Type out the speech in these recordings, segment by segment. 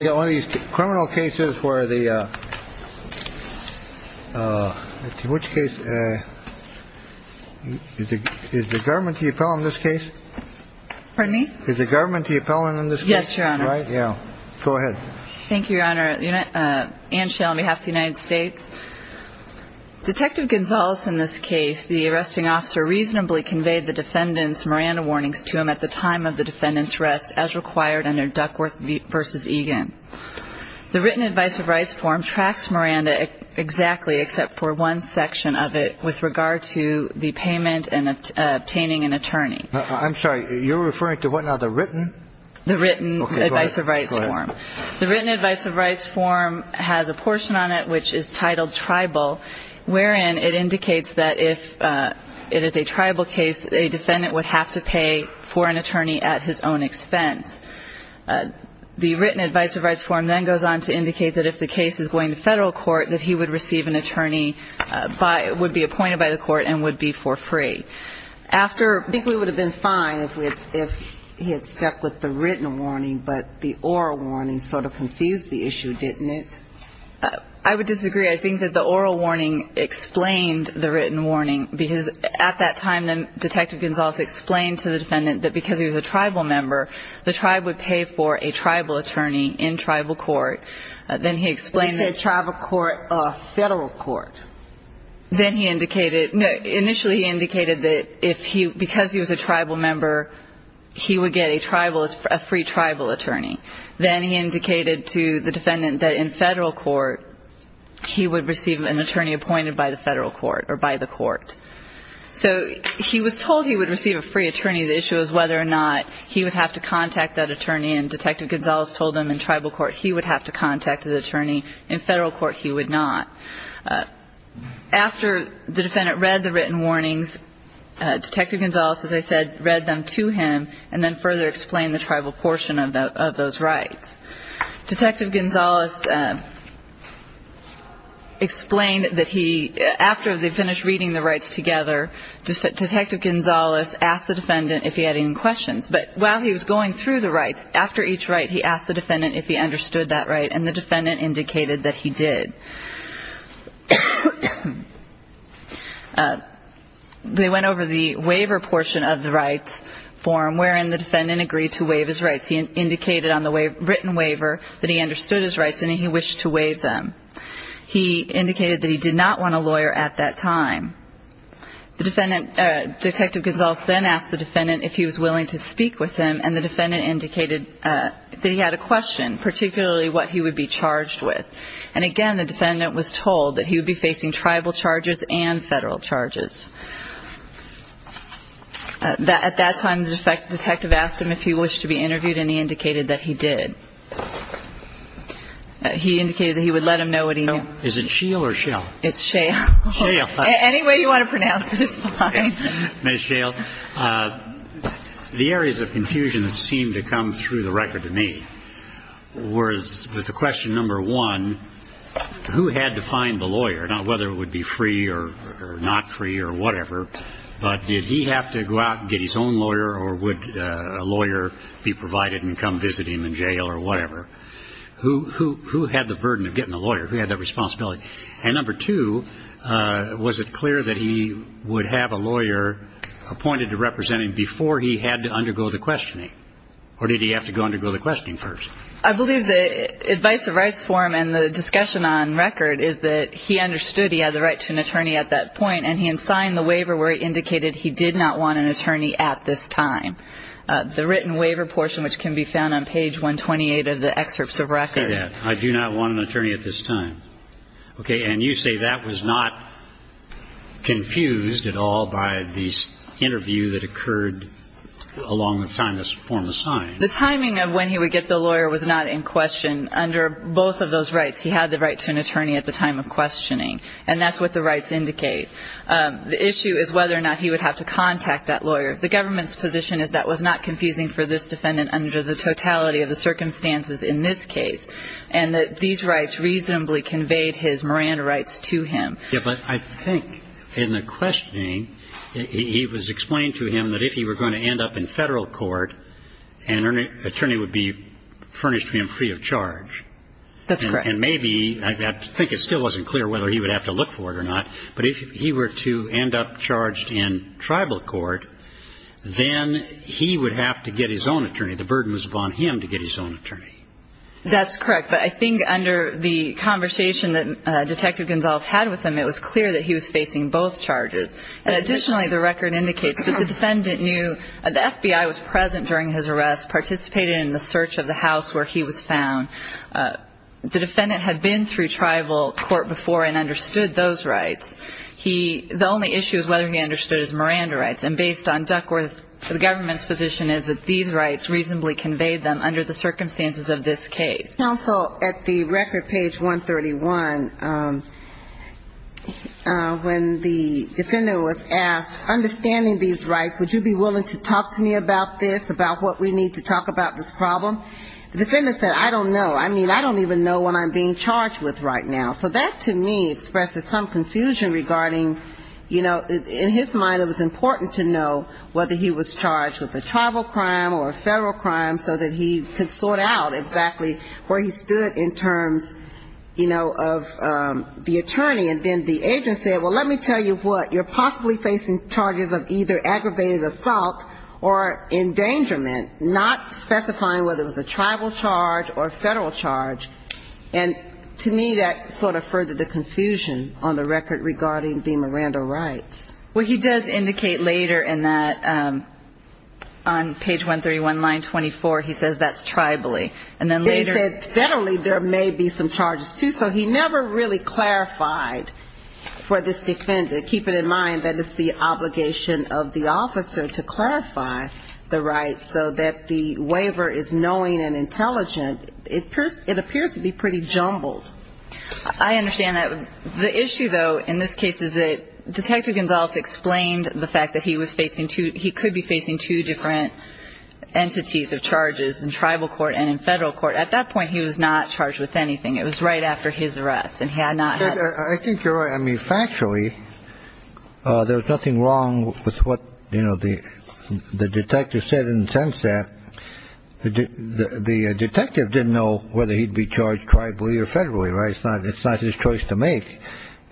the only criminal cases where the which case is the government the appellant in this case pardon me is the government the appellant in this case yes your honor right yeah go ahead thank you your honor you know uh and shale on behalf of the united states detective gonzales in this case the arresting officer reasonably conveyed the defendant's warnings to him at the time of the defendant's arrest as required under duckworth v. egan the written advice of rights form tracks miranda exactly except for one section of it with regard to the payment and obtaining an attorney i'm sorry you're referring to what now the written the written advice of rights form the written advice of rights form has a portion on it which is titled tribal wherein it indicates that if uh it is a tribal case a defendant would have to pay for an attorney at his own expense the written advice of rights form then goes on to indicate that if the case is going to federal court that he would receive an attorney by would be appointed by the court and would be for free after i think we would have been fine if we had if he had stuck with the written warning but the oral warning sort of confused the issue didn't it i would disagree i think that the oral warning explained the written warning because at that time then detective gonzales explained to the defendant that because he was a tribal member the tribe would pay for a tribal attorney in tribal court then he explained that tribal court a federal court then he indicated initially indicated that if he because he was a tribal member he would get a tribal a free tribal attorney then he indicated to the defendant that in federal court he would receive an attorney appointed by the federal court or by the court so he was told he would receive a free attorney the issue is whether or not he would have to contact that attorney and detective gonzales told him in tribal court he would have to contact the attorney in federal court he would not after the defendant read the written warnings detective gonzales as i said read them to him and then further explained the tribal portion of those rights detective gonzales explained that he after they finished reading the rights together just detective gonzales asked the defendant if he had any questions but while he was going through the rights after each right he asked the defendant if he understood that right and the defendant indicated that he did they went over the waiver portion of the rights form wherein the defendant agreed to waive his rights he indicated on the way written waiver that he understood his rights and he wished to waive them he indicated that he did not want a lawyer at that time the defendant detective gonzales then asked the defendant if he was willing to speak with him and the defendant indicated that he had a question particularly what he would be charged with and again the defendant was told that he would be facing tribal charges and federal charges that at that time the defective detective asked him if he wished to be interviewed and he indicated that he did he indicated that he would let him know what he know is it shiel or shell it's shale shale any way you want to pronounce it it's fine miss shale uh the areas of confusion that seemed to come through the record to me was was the question number one who had to find the lawyer whether it would be free or not free or whatever but did he have to go out and get his own lawyer or would a lawyer be provided and come visit him in jail or whatever who who who had the burden of getting a lawyer who had that responsibility and number two uh was it clear that he would have a lawyer appointed to represent him before he had to undergo the questioning or did he have to go undergo the questioning first i believe the advice of rights form and the discussion on record is that he understood he had the right to an attorney at that point and he had signed the waiver where he indicated he did not want an attorney at this time the written waiver portion which can be found on page 128 of the excerpts of record i do not want an attorney at this time okay and you say that was not confused at all by the interview that occurred along with time this form assigned the timing of when he would get the lawyer was not in question under both of those rights he had the attorney at the time of questioning and that's what the rights indicate the issue is whether or not he would have to contact that lawyer the government's position is that was not confusing for this defendant under the totality of the circumstances in this case and that these rights reasonably conveyed his Miranda rights to him yeah but i think in the questioning he was explained to him that if he were going to end up in federal court an attorney would be furnished him free of that i think it still wasn't clear whether he would have to look for it or not but if he were to end up charged in tribal court then he would have to get his own attorney the burden was upon him to get his own attorney that's correct but i think under the conversation that detective gonzales had with him it was clear that he was facing both charges and additionally the record indicates that the defendant knew the fbi was present during his arrest participated in the search of the house where he was found the defendant had been through tribal court before and understood those rights he the only issue is whether he understood his Miranda rights and based on duckworth the government's position is that these rights reasonably conveyed them under the circumstances of this case counsel at the record page 131 um uh when the defendant was asked understanding these rights would you be willing to talk to me about this about what we need to the defendant said i don't know i mean i don't even know what i'm being charged with right now so that to me expresses some confusion regarding you know in his mind it was important to know whether he was charged with a tribal crime or a federal crime so that he could sort out exactly where he stood in terms you know of um the attorney and then the agent said well let me tell you what you're possibly facing charges of either aggravated assault or endangerment not specifying whether it was a tribal charge or federal charge and to me that sort of furthered the confusion on the record regarding the Miranda rights well he does indicate later in that um on page 131 line 24 he says that's tribally and then later he said federally there may be some charges too so he never really clarified for this defendant keep it in mind that it's the obligation of the officer to clarify the rights so that the waiver is knowing and intelligent it appears it appears to be pretty jumbled i understand that the issue though in this case is that detective gonzales explained the fact that he was facing two he could be facing two different entities of charges in tribal court and in federal court at that point he was not charged with anything it was right after his arrest and he had not i think you're right i mean factually uh there was nothing wrong with what you know the the detective said in the sense that the the detective didn't know whether he'd be charged tribally or federally right it's not it's not his choice to make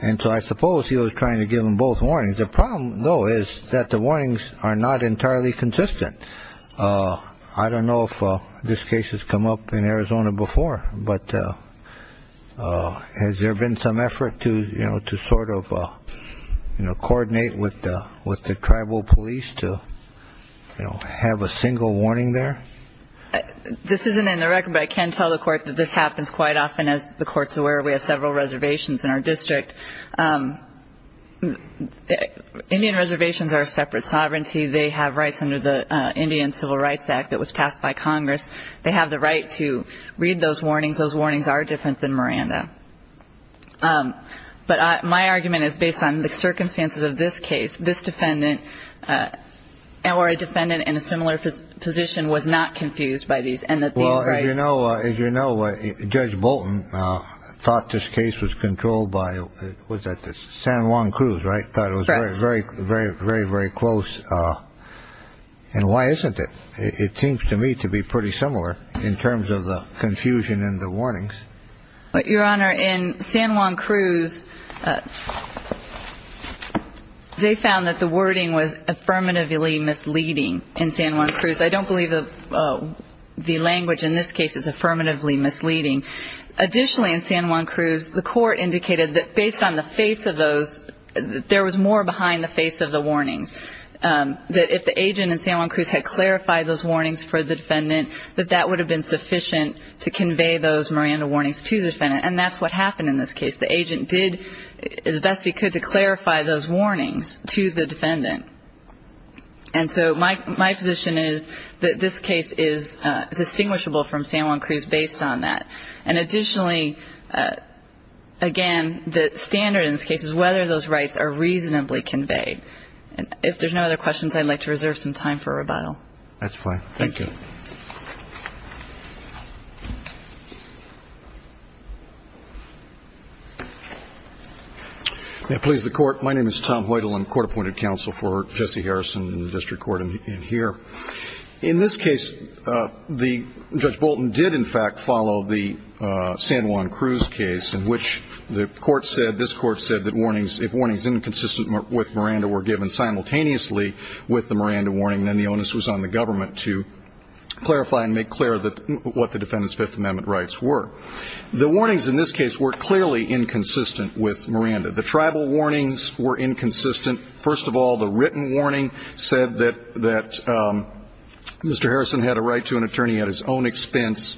and so i suppose he was trying to give them both warnings the problem though is that the warnings are not entirely consistent uh i don't know if this case has come up in arizona before but uh uh has there been some to you know to sort of uh you know coordinate with the with the tribal police to you know have a single warning there this isn't in the record but i can tell the court that this happens quite often as the court's aware we have several reservations in our district um indian reservations are separate sovereignty they have rights under the indian civil rights act that was passed by congress they have the right to read those warnings those warnings are different than miranda um but i my argument is based on the circumstances of this case this defendant uh or a defendant in a similar position was not confused by these and that these right you know as you know uh judge bolton uh thought this case was controlled by was that the san juan cruise right thought it was very very very very very close uh and why isn't it it seems to me to be pretty similar in terms of the confusion in the warnings but your honor in san juan cruise they found that the wording was affirmatively misleading in san juan cruise i don't believe the language in this case is affirmatively misleading additionally in san juan cruise the court indicated that based on the face of those there was more behind the face of the warnings um that if the agent in san juan cruise had clarified those warnings for the defendant that that would have been sufficient to convey those miranda warnings to the defendant and that's what happened in this case the agent did as best he could to clarify those warnings to the defendant and so my my position is that this case is uh distinguishable from san juan cruise based on that and additionally uh again the standard in this case is whether those rights are reasonably conveyed and if there's no other questions i'd like to reserve some time for a question now please the court my name is tom hoytle and court appointed counsel for jesse harrison in the district court in here in this case uh the judge bolton did in fact follow the uh san juan cruise case in which the court said this court said that warnings if warnings inconsistent with miranda were given simultaneously with the miranda warning then the onus was on the government to clarify and make clear that what the defendant's fifth amendment rights were the warnings in this case were clearly inconsistent with miranda the tribal warnings were inconsistent first of all the written warning said that that um mr harrison had a right to an attorney at his own expense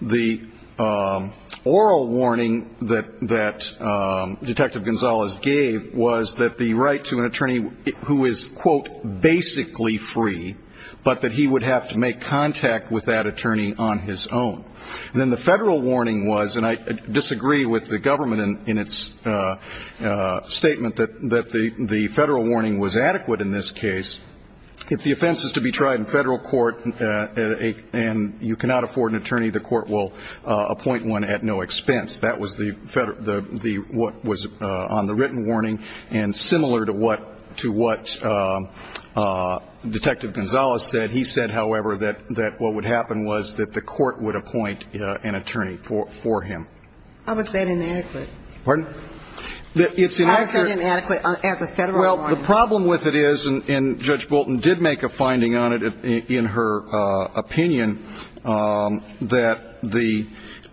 the um oral warning that that um detective gonzalez gave was that the attorney who is quote basically free but that he would have to make contact with that attorney on his own and then the federal warning was and i disagree with the government and in its uh uh statement that that the the federal warning was adequate in this case if the offense is to be tried in federal court uh a and you cannot afford an attorney the court will uh appoint one at no that was the federal the the what was uh on the written warning and similar to what to what uh uh detective gonzalez said he said however that that what would happen was that the court would appoint uh an attorney for for him i would say inadequate pardon it's inadequate as a federal well the problem with it is and judge bolton did make a finding on it in her uh opinion um that the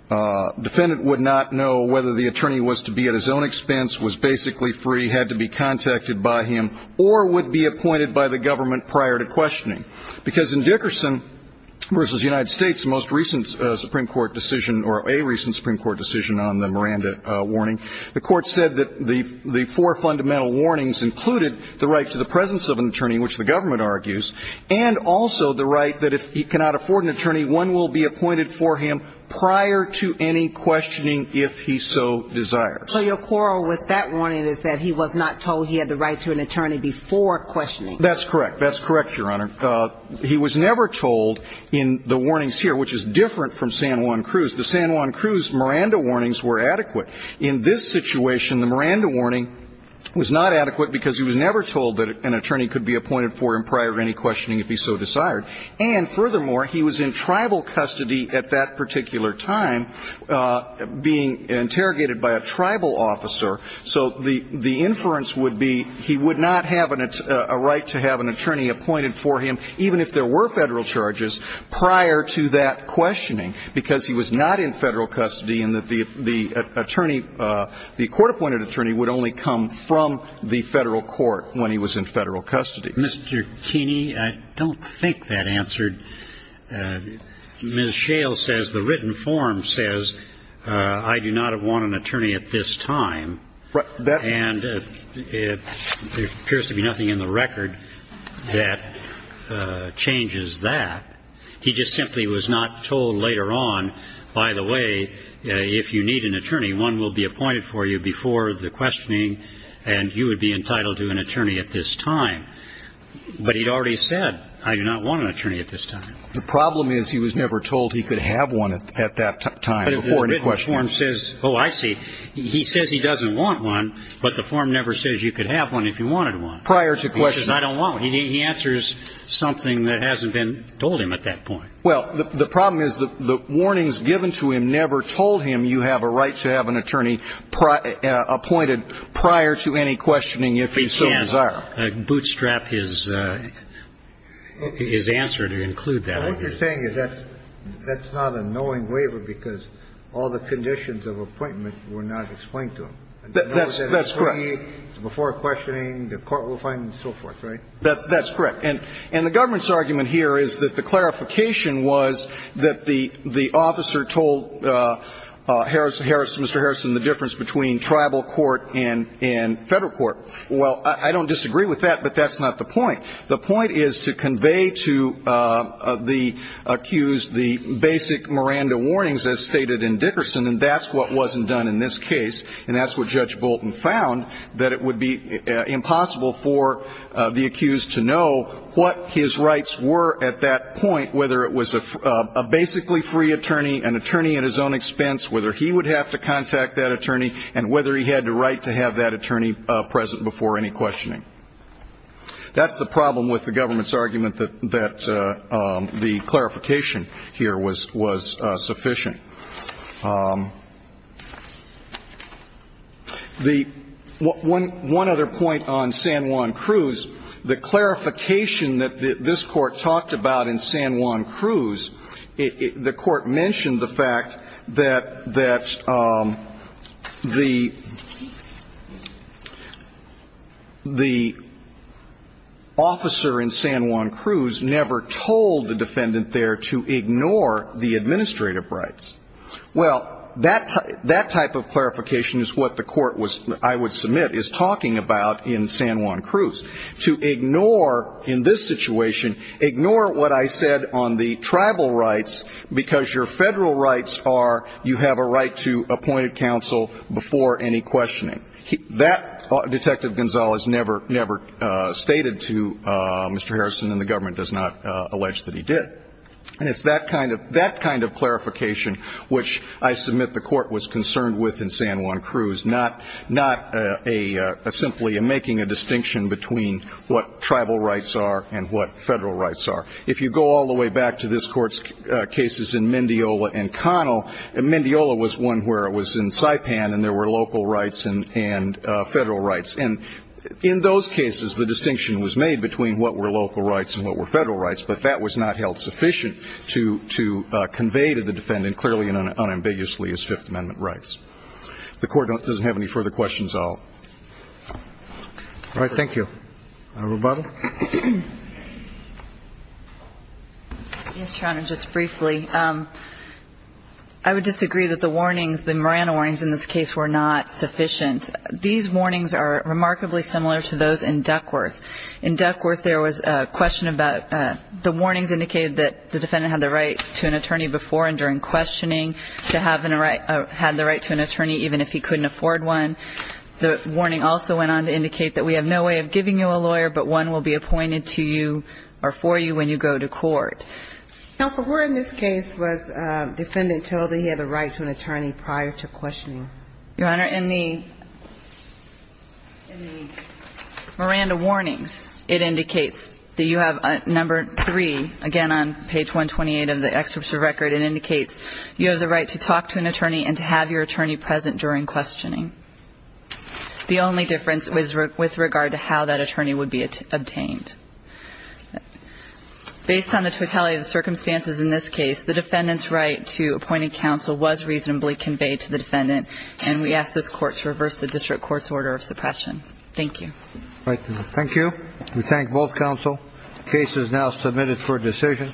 uh would not know whether the attorney was to be at his own expense was basically free had to be contacted by him or would be appointed by the government prior to questioning because in dickerson versus the united states most recent uh supreme court decision or a recent supreme court decision on the miranda uh warning the court said that the the four fundamental warnings included the right to the presence of an attorney which the government argues and also the right that if he cannot afford an attorney one will be appointed for him prior to any questioning if he so desires so your quarrel with that warning is that he was not told he had the right to an attorney before questioning that's correct that's correct your honor he was never told in the warnings here which is different from san juan cruz the san juan cruz miranda warnings were adequate in this situation the miranda warning was not adequate because he was never told that an attorney could be appointed for him prior to any questioning if he so desired and furthermore he was in tribal custody at that particular time uh being interrogated by a tribal officer so the the inference would be he would not have an a right to have an attorney appointed for him even if there were federal charges prior to that questioning because he was not in federal custody and that the the attorney uh the court appointed attorney would only come from the federal court when he was in federal custody mr keeney i don't think that answered uh miss shale says the written form says uh i do not want an attorney at this time right that and it appears to be nothing in the record that uh changes that he just simply was not told later on by the way if you need an attorney one will be appointed for you before the questioning and you would be entitled to an attorney at this time but he'd already said i do not want an attorney at this time the problem is he was never told he could have one at that time before any questions says oh i see he says he doesn't want one but the form never says you could have one if you wanted one prior to questions i don't want he answers something that hasn't been told him at that point well the problem is that the warnings given to him never told him you have a right to have an attorney appointed prior to any questioning if he can bootstrap his uh his answer to include that what you're saying is that that's not a knowing waiver because all the conditions of appointment were not explained to him that's that's correct before questioning the court will find and so forth right that's that's correct and and the government's argument here is that the clarification was that the the officer told uh uh harris harris mister harrison the difference between tribal court and and federal court well i don't disagree with that but that's not the point the point is to convey to uh the accused the basic miranda warnings as stated in dickerson and that's what wasn't done in this case and that's what judge bolton found that it would be impossible for the accused to know what his rights were at that point whether it was a basically free attorney an attorney at his own expense whether he would have to contact that attorney and whether he had the right to have that attorney uh present before any questioning that's the problem with the government's argument that that uh um the clarification here was was uh sufficient um the one one other point on san juan cruz the clarification that this court talked about in san juan cruz the court mentioned the fact that that um the the officer in san juan cruz never told the defendant there to ignore the administrative rights well that that type of clarification is what the court was i would submit is talking about in san juan cruz to ignore in this situation ignore what i said on the tribal rights because your federal rights are you have a right to appointed counsel before any questioning that detective gonzalez never never uh stated to uh does not uh allege that he did and it's that kind of that kind of clarification which i submit the court was concerned with in san juan cruz not not a simply a making a distinction between what tribal rights are and what federal rights are if you go all the way back to this court's cases in mendiola and connell and mendiola was one where it was in saipan and there were local rights and and uh and in those cases the distinction was made between what were local rights and what were federal rights but that was not held sufficient to to uh convey to the defendant clearly and unambiguously as fifth amendment rights the court doesn't have any further questions i'll all right thank you roboto yes your honor just briefly um i would disagree that the warnings the marana warnings in this were not sufficient these warnings are remarkably similar to those in duckworth in duckworth there was a question about uh the warnings indicated that the defendant had the right to an attorney before and during questioning to have a right had the right to an attorney even if he couldn't afford one the warning also went on to indicate that we have no way of giving you a lawyer but one will be appointed to you or for you when you go to court counsel where in this case was defendant told he had a right to an attorney prior to questioning your honor in the in the miranda warnings it indicates that you have a number three again on page 128 of the excerpt of record it indicates you have the right to talk to an attorney and to have your attorney present during questioning the only difference was with regard to how that attorney would be obtained based on the totality of the circumstances in this case the defendant's right to appointing counsel was reasonably conveyed to the defendant and we ask this court to reverse the district court's order of suppression thank you thank you we thank both counsel case is now submitted for versus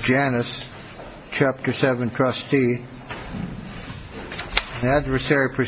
janice chapter seven trustee adversary